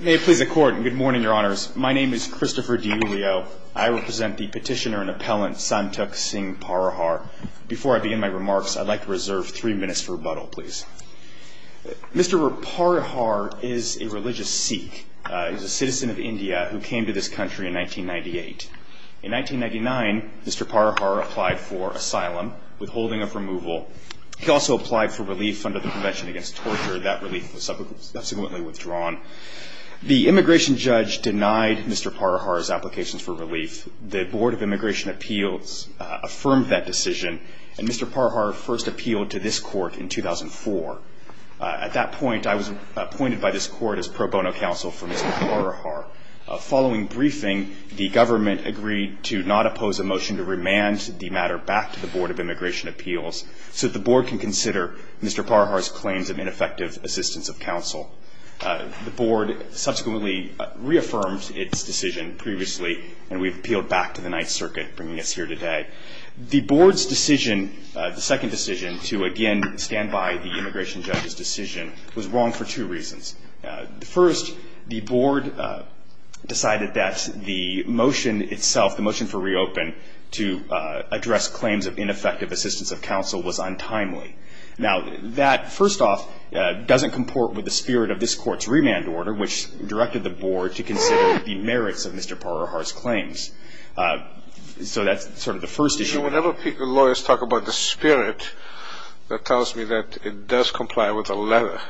May it please the court and good morning, your honors. My name is Christopher DiIulio. I represent the petitioner and appellant Santokh Singh Parihar. Before I begin my remarks, I'd like to reserve three minutes for rebuttal, please. Mr. Parihar is a religious Sikh. He's a citizen of India who came to this country in 1998. In 1999, Mr. Parihar applied for asylum, withholding of removal. He also applied for relief under the Prevention Against Torture. That relief was subsequently withdrawn. The immigration judge denied Mr. Parihar's applications for relief. The Board of Immigration Appeals affirmed that decision, and Mr. Parihar first appealed to this court in 2004. At that point, I was appointed by this court as pro bono counsel for Mr. Parihar. Following briefing, the government agreed to not oppose a motion to remand the matter back to the Board of Immigration Appeals so that the Board can consider Mr. Parihar's claims of ineffective assistance of counsel. The Board subsequently reaffirmed its decision previously, and we've appealed back to the Ninth Circuit, bringing us here today. The Board's decision, the second decision, to again stand by the immigration judge's decision was wrong for two reasons. First, the Board decided that the motion itself, the motion for reopen, to address claims of ineffective assistance of counsel was untimely. Now, that, first off, doesn't comport with the spirit of this court's remand order, which directed the Board to consider the merits of Mr. Parihar's claims. So that's sort of the first issue. Whenever lawyers talk about the spirit, that tells me that it does comply with the letter.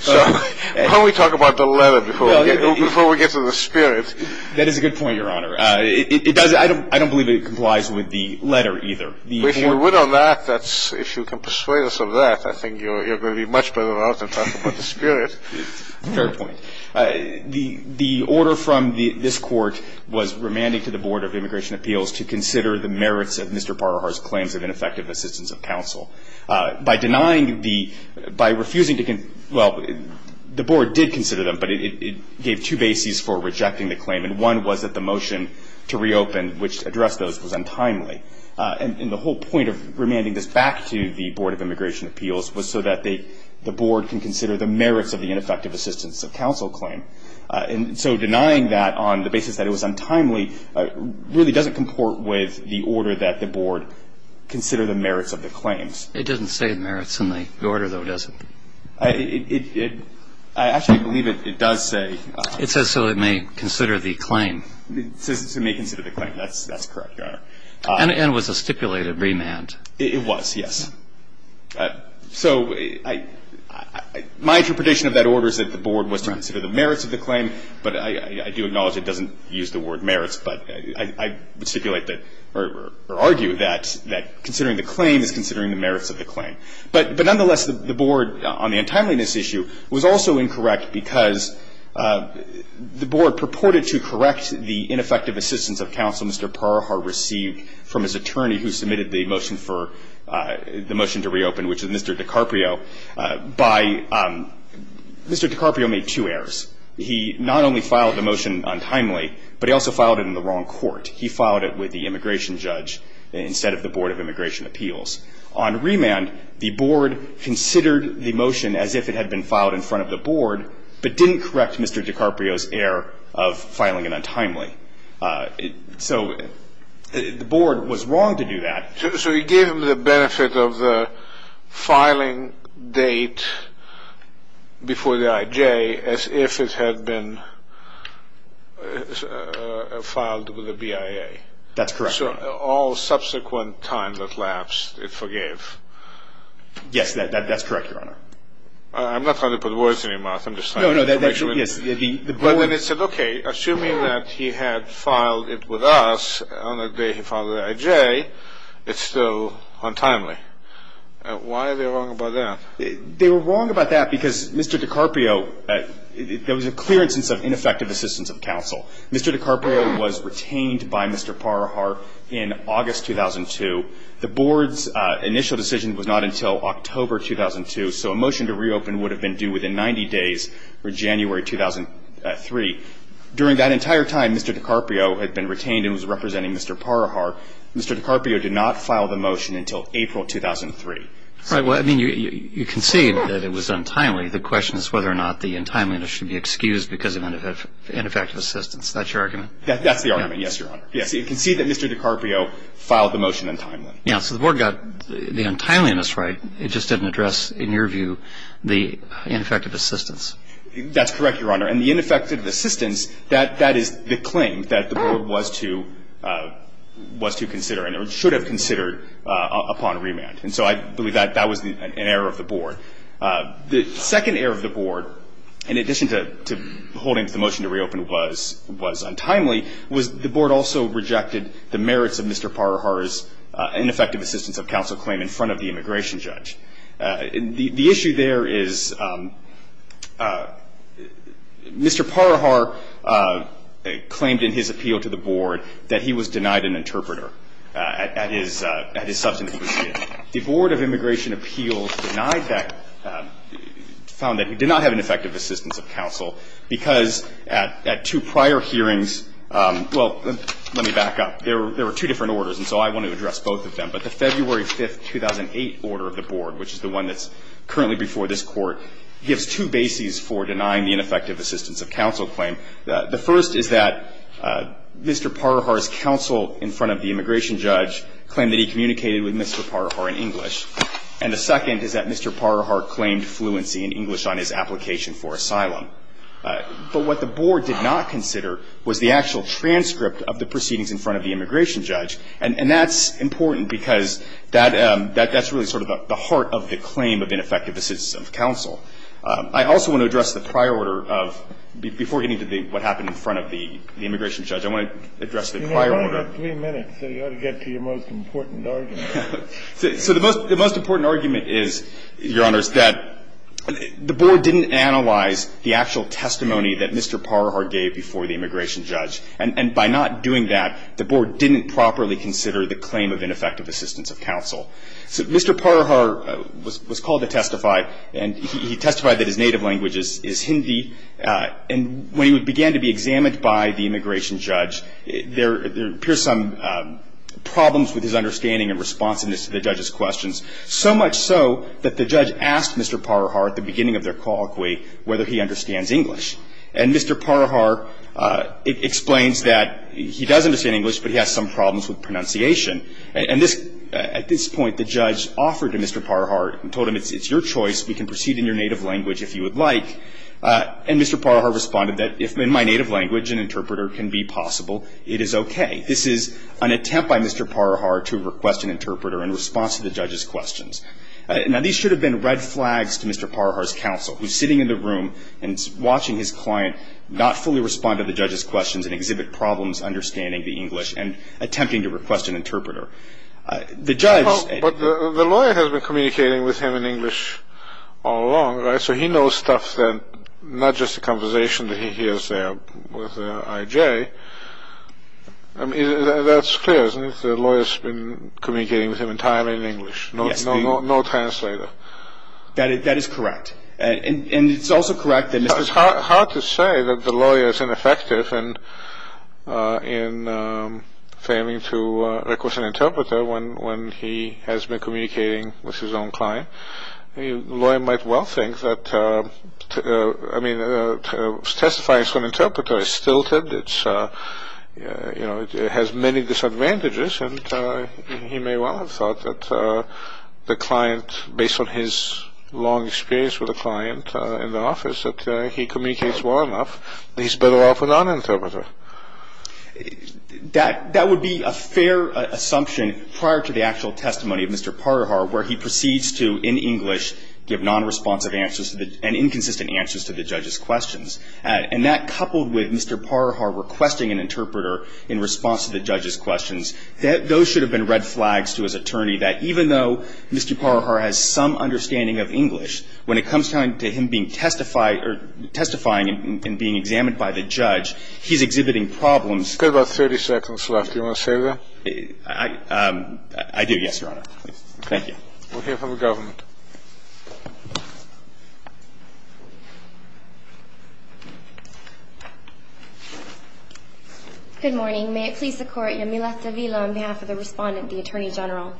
So how do we talk about the letter before we get to the spirit? That is a good point, Your Honor. It does, I don't believe it complies with the letter either. If you're with on that, if you can persuade us of that, I think you're going to be much better off than talking about the spirit. Fair point. The order from this court was remanding to the Board of Immigration Appeals to consider the merits of Mr. Parihar's claims of ineffective assistance of counsel. By denying the, by refusing to, well, the Board did consider them, but it gave two bases for rejecting the claim. And one was that the motion to reopen, which addressed those, was untimely. And the whole point of remanding this back to the Board of Immigration Appeals was so that the Board can consider the merits of the ineffective assistance of counsel claim. And so denying that on the basis that it was untimely really doesn't comport with the order that the Board consider the merits of the claims. It doesn't say the merits in the order, though, does it? I actually believe it does say. It says so it may consider the claim. It says it may consider the claim. That's correct, Your Honor. And it was a stipulated remand. It was, yes. So my interpretation of that order is that the Board was to consider the merits of the claim, but I do acknowledge it doesn't use the word merits. But I would stipulate that or argue that considering the claim is considering the merits of the claim. But nonetheless, the Board on the untimeliness issue was also incorrect because the Board purported to correct the ineffective assistance of counsel Mr. Perhar received from his attorney who submitted the motion for the motion to reopen, which is Mr. DiCaprio, by Mr. DiCaprio made two errors. He not only filed the motion untimely, but he also filed it in the wrong court. He filed it with the immigration judge instead of the Board of Immigration Appeals. On remand, the Board considered the motion as if it had been filed in front of the Mr. DiCaprio's heir of filing it untimely. So the Board was wrong to do that. So he gave him the benefit of the filing date before the IJ as if it had been filed with the BIA. That's correct, Your Honor. So all subsequent time that lapsed it forgave. Yes, that's correct, Your Honor. I'm not trying to put words in your mouth. I'm just trying to make sure. No, no. Yes. But then it said, okay, assuming that he had filed it with us on the day he filed the IJ, it's still untimely. Why are they wrong about that? They were wrong about that because Mr. DiCaprio, there was a clear instance of ineffective assistance of counsel. Mr. DiCaprio was retained by Mr. Perhar in August 2002. The Board's initial decision was not until October 2002, so a motion to reopen would have been due within 90 days for January 2003. During that entire time, Mr. DiCaprio had been retained and was representing Mr. Perhar. Mr. DiCaprio did not file the motion until April 2003. Right. Well, I mean, you concede that it was untimely. The question is whether or not the untimeliness should be excused because of ineffective assistance. Is that your argument? That's the argument, yes, Your Honor. Yes. You concede that Mr. DiCaprio filed the motion untimely. Yes. The Board got the untimeliness right. It just didn't address, in your view, the ineffective assistance. That's correct, Your Honor. And the ineffective assistance, that is the claim that the Board was to consider and should have considered upon remand. And so I believe that that was an error of the Board. The second error of the Board, in addition to holding the motion to reopen was untimely, was the Board also rejected the merits of Mr. Perhar's ineffective assistance of counsel claim in front of the immigration judge. The issue there is Mr. Perhar claimed in his appeal to the Board that he was denied an interpreter at his substance abuse hearing. The Board of Immigration Appeals denied that, found that he did not have ineffective assistance of counsel because at two prior hearings, well, let me back up. There were two different orders, and so I want to address both of them. But the February 5, 2008, order of the Board, which is the one that's currently before this Court, gives two bases for denying the ineffective assistance of counsel claim. The first is that Mr. Perhar's counsel in front of the immigration judge claimed that he communicated with Mr. Perhar in English. And the second is that Mr. Perhar claimed fluency in English on his application for asylum. But what the Board did not consider was the actual transcript of the proceedings in front of the immigration judge. And that's important because that's really sort of the heart of the claim of ineffective assistance of counsel. I also want to address the prior order of, before getting to what happened in front of the immigration judge, I want to address the prior order. You only have three minutes, so you ought to get to your most important argument. So the most important argument is, Your Honors, that the Board didn't analyze the actual testimony that Mr. Perhar gave before the immigration judge. And by not doing that, the Board didn't properly consider the claim of ineffective assistance of counsel. So Mr. Perhar was called to testify, and he testified that his native language is Hindi. And when he began to be examined by the immigration judge, there appears some problems with his understanding and responsiveness to the judge's questions, so much so that the judge asked Mr. Perhar at the beginning of their colloquy whether he understands English. And Mr. Perhar explains that he does understand English, but he has some problems with pronunciation. And this, at this point, the judge offered to Mr. Perhar and told him it's your choice, we can proceed in your native language if you would like. And Mr. Perhar responded that if in my native language an interpreter can be possible, it is okay. This is an attempt by Mr. Perhar to request an interpreter in response to the judge's questions. Now, these should have been red flags to Mr. Perhar's counsel, who's sitting in the fully respond to the judge's questions and exhibit problems understanding the English and attempting to request an interpreter. The judge... But the lawyer has been communicating with him in English all along, right? So he knows stuff, not just the conversation that he hears there with IJ. I mean, that's clear, isn't it? The lawyer's been communicating with him entirely in English, no translator. That is correct. And it's also correct that Mr. Perhar... It's hard to say that the lawyer is ineffective in failing to request an interpreter when he has been communicating with his own client. The lawyer might well think that, I mean, testifying to an interpreter is stilted. It has many disadvantages. And he may well have thought that the client, based on his long experience with the client in the office, that he communicates well enough. He's better off with non-interpreter. That would be a fair assumption prior to the actual testimony of Mr. Perhar where he proceeds to, in English, give non-responsive answers and inconsistent answers to the judge's questions. And that, coupled with Mr. Perhar requesting an interpreter in response to the judge's questions, those should have been red flags to his attorney that even though Mr. Perhar has some understanding of English, when it comes time to him being testifying and being examined by the judge, he's exhibiting problems. You've got about 30 seconds left. Do you want to say anything? I do, yes, Your Honor. Thank you. We'll hear from the government. Good morning. Good morning. May it please the Court, I am Mila Tavila on behalf of the Respondent, the Attorney General.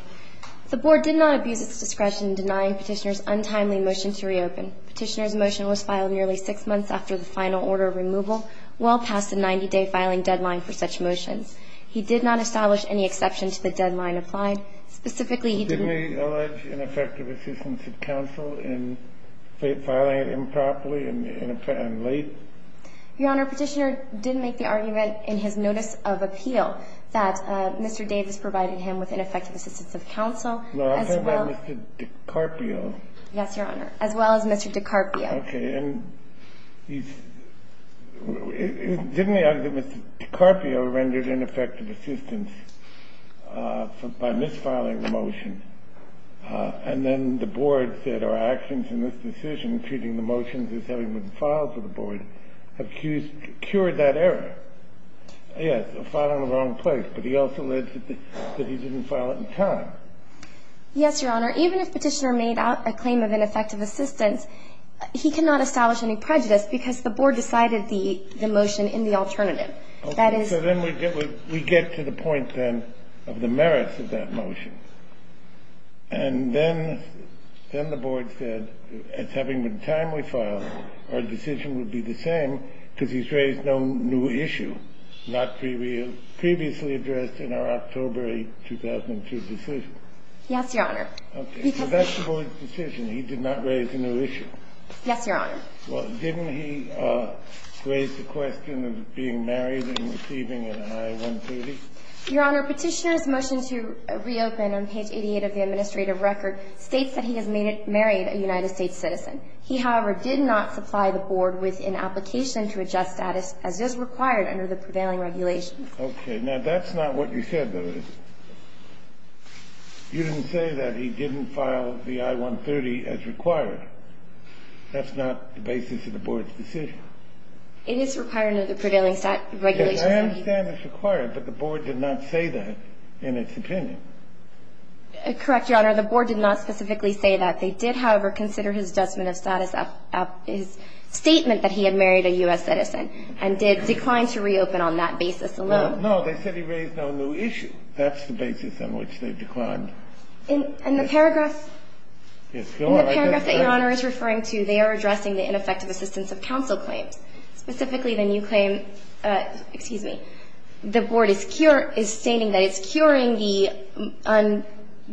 The Board did not abuse its discretion in denying Petitioner's untimely motion to reopen. Petitioner's motion was filed nearly six months after the final order of removal, well past the 90-day filing deadline for such motions. He did not establish any exception to the deadline applied. Specifically, he did not ---- Didn't he allege ineffective assistance of counsel in filing it improperly and late? Your Honor, Petitioner did make the argument in his notice of appeal that Mr. Davis provided him with ineffective assistance of counsel, as well ---- No, I'm talking about Mr. DiCarpio. Yes, Your Honor, as well as Mr. DiCarpio. Okay. And he's ---- didn't he argue that Mr. DiCarpio rendered ineffective assistance by misfiling the motion? And then the Board said our actions in this decision, including the motions it's having been filed for the Board, have cured that error. Yes, a file in the wrong place, but he also alleged that he didn't file it in time. Yes, Your Honor. Even if Petitioner made out a claim of ineffective assistance, he cannot establish any prejudice because the Board decided the motion in the alternative. That is ---- Okay. So then we get to the point, then, of the merits of that motion. And then the Board said, as having been timely filed, our decision would be the same because he's raised no new issue not previously addressed in our October 2002 decision. Yes, Your Honor. Okay. So that's the Board's decision. He did not raise a new issue. Yes, Your Honor. Well, didn't he raise the question of being married and receiving an I-130? Your Honor, Petitioner's motion to reopen on page 88 of the administrative record states that he has married a United States citizen. He, however, did not supply the Board with an application to adjust status as is required under the prevailing regulations. Okay. Now, that's not what you said, though, is it? You didn't say that he didn't file the I-130 as required. That's not the basis of the Board's decision. It is required under the prevailing regulations. I understand it's required, but the Board did not say that in its opinion. Correct, Your Honor. The Board did not specifically say that. They did, however, consider his adjustment of status of his statement that he had married a U.S. citizen and did decline to reopen on that basis alone. No. They said he raised no new issue. That's the basis on which they declined. In the paragraph that Your Honor is referring to, they are addressing the ineffective assistance of counsel claims. Specifically, the new claim, excuse me, the Board is stating that it's curing the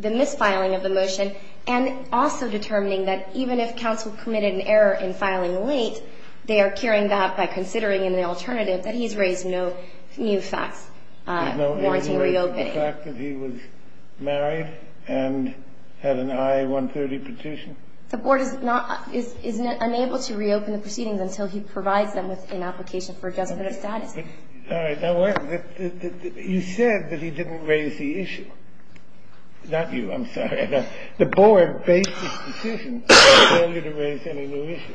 misfiling of the motion and also determining that even if counsel committed an error in filing late, they are curing that by considering in the alternative that he's raised no new facts warranting reopening. There's no issue with the fact that he was married and had an I-130 petition? The Board is not unable to reopen the proceedings until he provides them with an application for adjustment of status. All right. Now, you said that he didn't raise the issue. Not you. I'm sorry. The Board based its decision on a failure to raise any new issue.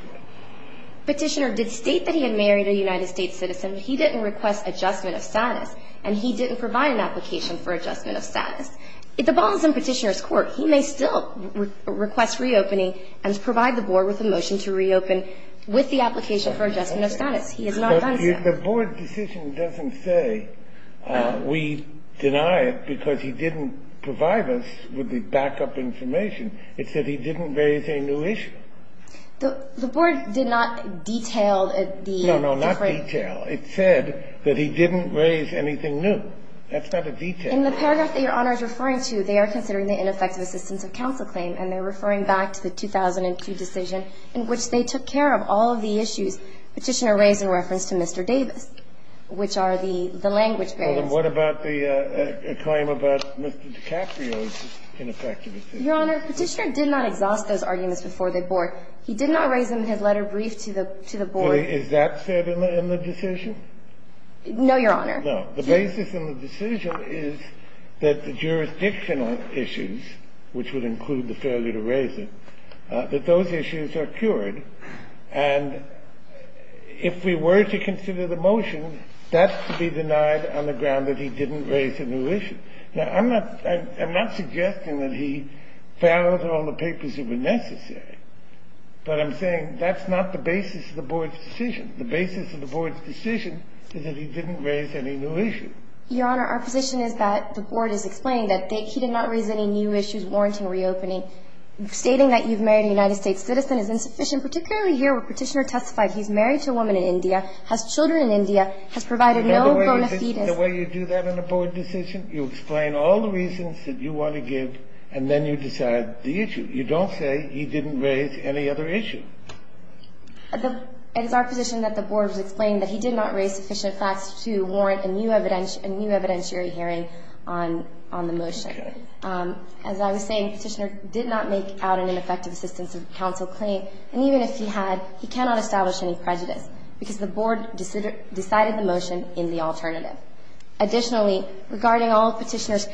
Petitioner did state that he had married a United States citizen, but he didn't request adjustment of status, and he didn't provide an application for adjustment of status. If the ball is in Petitioner's court, he may still request reopening and provide the Board with a motion to reopen with the application for adjustment of status. He has not done so. The Board decision doesn't say we deny it because he didn't provide us with the backup information. It said he didn't raise any new issue. The Board did not detail the different No, no, not detail. It said that he didn't raise anything new. That's not a detail. In the paragraph that Your Honor is referring to, they are considering the ineffective assistance of counsel claim, and they're referring back to the 2002 decision in which they took care of all of the issues Petitioner raised in reference to Mr. Davis, which are the language barriers. Well, then what about the claim about Mr. DiCaprio's ineffective assistance? Your Honor, Petitioner did not exhaust those arguments before the Board. He did not raise them in his letter brief to the Board. Is that said in the decision? No, Your Honor. No. The basis in the decision is that the jurisdictional issues, which would include the failure to raise it, that those issues are cured. And if we were to consider the motion, that's to be denied on the ground that he didn't raise a new issue. Now, I'm not suggesting that he failed all the papers that were necessary, but I'm saying that's not the basis of the Board's decision. The basis of the Board's decision is that he didn't raise any new issue. Your Honor, our position is that the Board is explaining that he did not raise any new issues warranting reopening. Stating that you've married a United States citizen is insufficient, particularly here where Petitioner testified he's married to a woman in India, has children in India, has provided no chroma fetus. The way you do that in a Board decision, you explain all the reasons that you want to give, and then you decide the issue. You don't say he didn't raise any other issue. It is our position that the Board is explaining that he did not raise sufficient facts to warrant a new evidentiary hearing on the motion. As I was saying, Petitioner did not make out an ineffective assistance of counsel claim, and even if he had, he cannot establish any prejudice, because the Board decided the motion in the alternative. Additionally, regarding all Petitioner's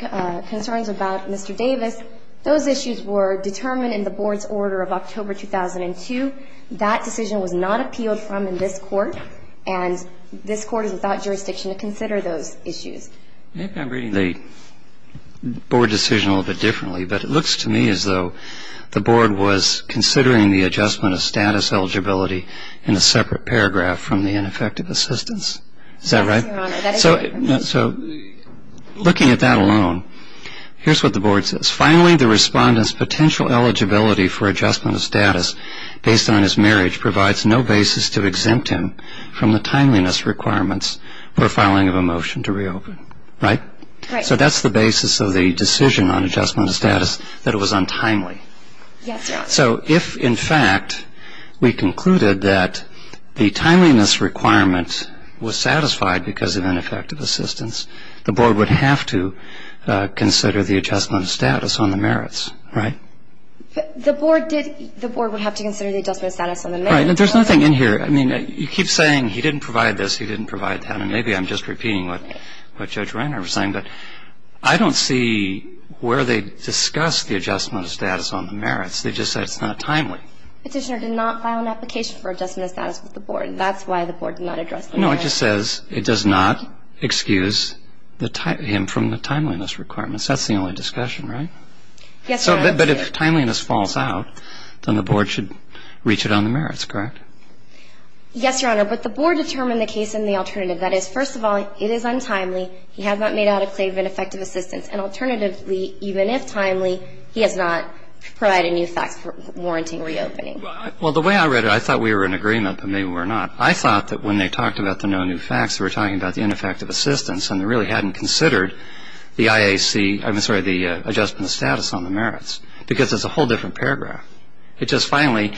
concerns about Mr. Davis, those issues were determined in the Board's order of October 2002. That decision was not appealed from in this Court, and this Court is without jurisdiction to consider those issues. I'm reading the Board decision a little bit differently, but it looks to me as though the Board was considering the adjustment of status eligibility in a separate paragraph from the ineffective assistance. Is that right? Yes, Your Honor. That is correct. So looking at that alone, here's what the Board says. Finally, the Respondent's potential eligibility for adjustment of status based on his marriage provides no basis to exempt him from the timeliness requirements for filing of a motion to reopen. Right? Right. So that's the basis of the decision on adjustment of status, that it was untimely. Yes, Your Honor. So if, in fact, we concluded that the timeliness requirement was satisfied because of ineffective assistance, the Board would have to consider the adjustment of status on the merits, right? The Board would have to consider the adjustment of status on the merits. Right. And there's nothing in here. I mean, you keep saying he didn't provide this, he didn't provide that, and maybe I'm just repeating what Judge Reiner was saying. But I don't see where they discuss the adjustment of status on the merits. They just say it's not timely. Petitioner did not file an application for adjustment of status with the Board. That's why the Board did not address the merits. No, it just says it does not excuse him from the timeliness requirements. That's the only discussion, right? Yes, Your Honor. But if timeliness falls out, then the Board should reach it on the merits, correct? Yes, Your Honor. But the Board determined the case in the alternative. That is, first of all, it is untimely. He has not made out a claim of ineffective assistance. And alternatively, even if timely, he has not provided new facts for warranting reopening. Well, the way I read it, I thought we were in agreement, but maybe we're not. I thought that when they talked about the no new facts, they were talking about and they really hadn't considered the adjustment of status on the merits, because it's a whole different paragraph. It says, finally,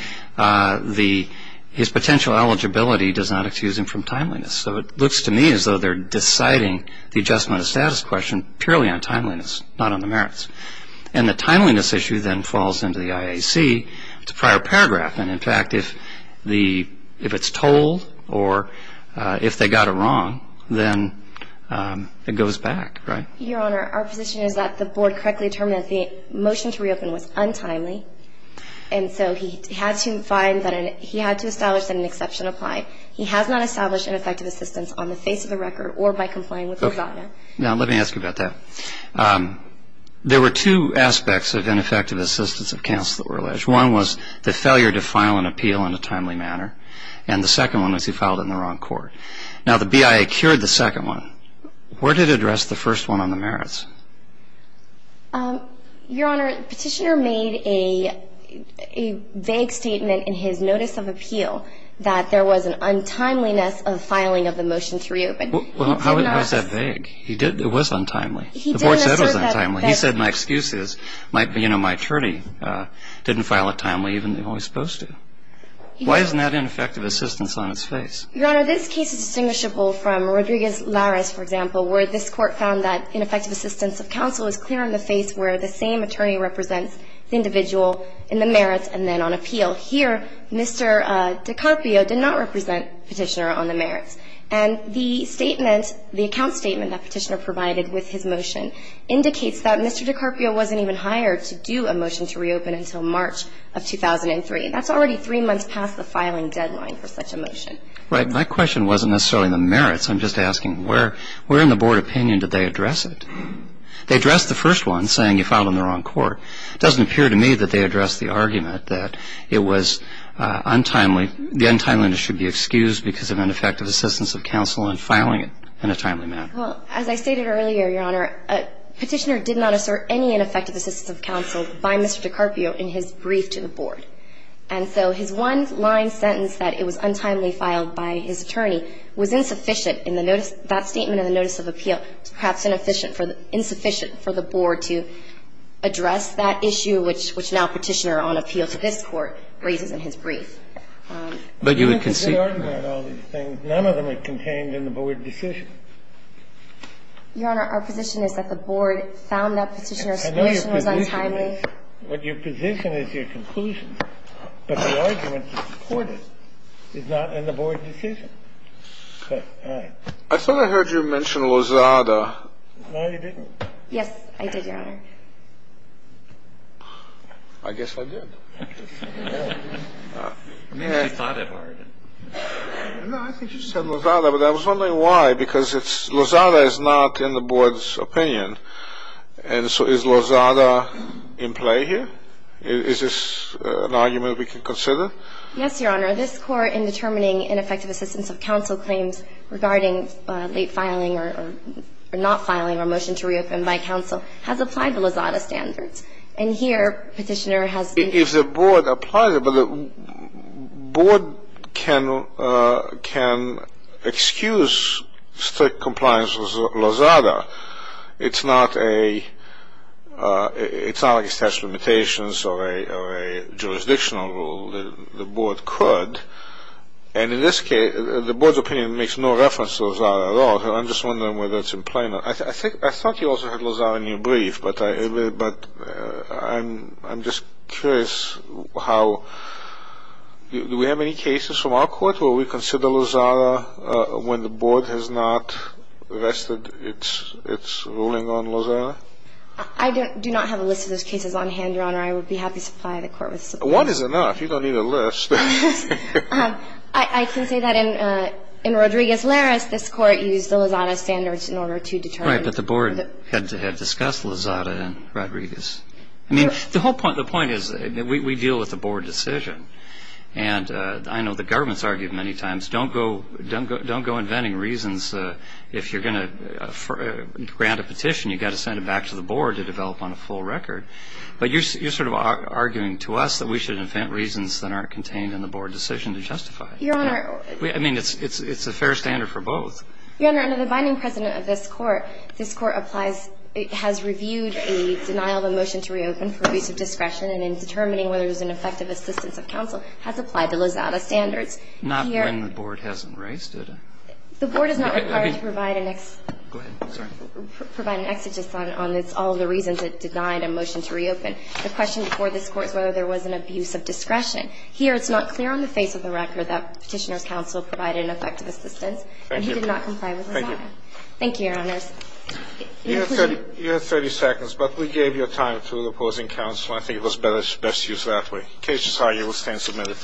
his potential eligibility does not excuse him from timeliness. So it looks to me as though they're deciding the adjustment of status question purely on timeliness, not on the merits. And the timeliness issue then falls into the IAC. It's a prior paragraph. And, in fact, if it's told or if they got it wrong, then it goes back, right? Your Honor, our position is that the Board correctly determined that the motion to reopen was untimely. And so he had to establish that an exception applied. He has not established ineffective assistance on the face of the record or by complying with the ZOTMAP. Now, let me ask you about that. There were two aspects of ineffective assistance of counsel that were alleged. One was the failure to file an appeal in a timely manner, and the second one was he filed in the wrong court. Now, the BIA cured the second one. Where did it address the first one on the merits? Your Honor, Petitioner made a vague statement in his notice of appeal that there was an untimeliness of filing of the motion to reopen. How is that vague? It was untimely. The Board said it was untimely. He said, my excuse is, you know, my attorney didn't file it timely even though he was supposed to. Why isn't that ineffective assistance on his face? Your Honor, this case is distinguishable from Rodriguez-Larez, for example, where this Court found that ineffective assistance of counsel is clear on the face where the same attorney represents the individual in the merits and then on appeal. Here, Mr. DiCaprio did not represent Petitioner on the merits. And the statement, the account statement that Petitioner provided with his motion indicates that Mr. DiCaprio wasn't even hired to do a motion to reopen until March of 2003. That's already three months past the filing deadline for such a motion. Right. My question wasn't necessarily the merits. I'm just asking, where in the Board opinion did they address it? They addressed the first one, saying you filed in the wrong court. It doesn't appear to me that they addressed the argument that it was untimely. The untimeliness should be excused because of ineffective assistance of counsel in filing it in a timely manner. Well, as I stated earlier, Your Honor, Petitioner did not assert any ineffective assistance of counsel by Mr. DiCaprio in his brief to the Board. And so his one-line sentence that it was untimely filed by his attorney was insufficient in the notice of that statement and the notice of appeal. It was perhaps insufficient for the Board to address that issue, which now Petitioner on appeal to this Court raises in his brief. But you would concede. Your Honor, our position is that the Board found that Petitioner's solution was untimely. I know your position is. What your position is, your conclusion, but the argument supported, is not in the Board decision. Okay. All right. I thought I heard you mention Lozada. No, you didn't. Yes, I did, Your Honor. I guess I did. I mean, I thought I heard it. No, I think you said Lozada, but I was wondering why, because Lozada is not in the Board's opinion. And so is Lozada in play here? Is this an argument we can consider? Yes, Your Honor. This Court in determining ineffective assistance of counsel claims regarding late filing or not filing a motion to reopen by counsel has applied the Lozada standards. And here Petitioner has been. If the Board applies it, but the Board can excuse strict compliance with Lozada. It's not a statute of limitations or a jurisdictional rule. The Board could. And in this case, the Board's opinion makes no reference to Lozada at all. I'm just wondering whether it's in play. I thought you also had Lozada in your brief, but I'm just curious how do we have any cases from our court where we consider Lozada when the Board has not rested its ruling on Lozada? I do not have a list of those cases on hand, Your Honor. I would be happy to supply the Court with support. One is enough. You don't need a list. I can say that in Rodriguez-Larez, this Court used the Lozada standards in order to determine. Right. But the Board had discussed Lozada and Rodriguez. I mean, the whole point is we deal with the Board decision. And I know the government's argued many times, don't go inventing reasons. If you're going to grant a petition, you've got to send it back to the Board to develop on a full record. But you're sort of arguing to us that we should invent reasons that aren't contained in the Board decision to justify it. Your Honor. I mean, it's a fair standard for both. Your Honor, under the binding precedent of this Court, this Court applies, has reviewed a denial of a motion to reopen for abuse of discretion and in determining whether it was an effective assistance of counsel, has applied the Lozada standards. Not when the Board hasn't rested it. The Board is not required to provide an exegesis on all the reasons it denied a motion to reopen. The question before this Court is whether there was an abuse of discretion. Here, it's not clear on the face of the record that Petitioner's counsel provided an effective assistance. Thank you. And he did not comply with Lozada. Thank you. Thank you, Your Honors. You have 30 seconds. But we gave your time to the opposing counsel. I think it was best used that way. Case is argued. We'll stand submitted.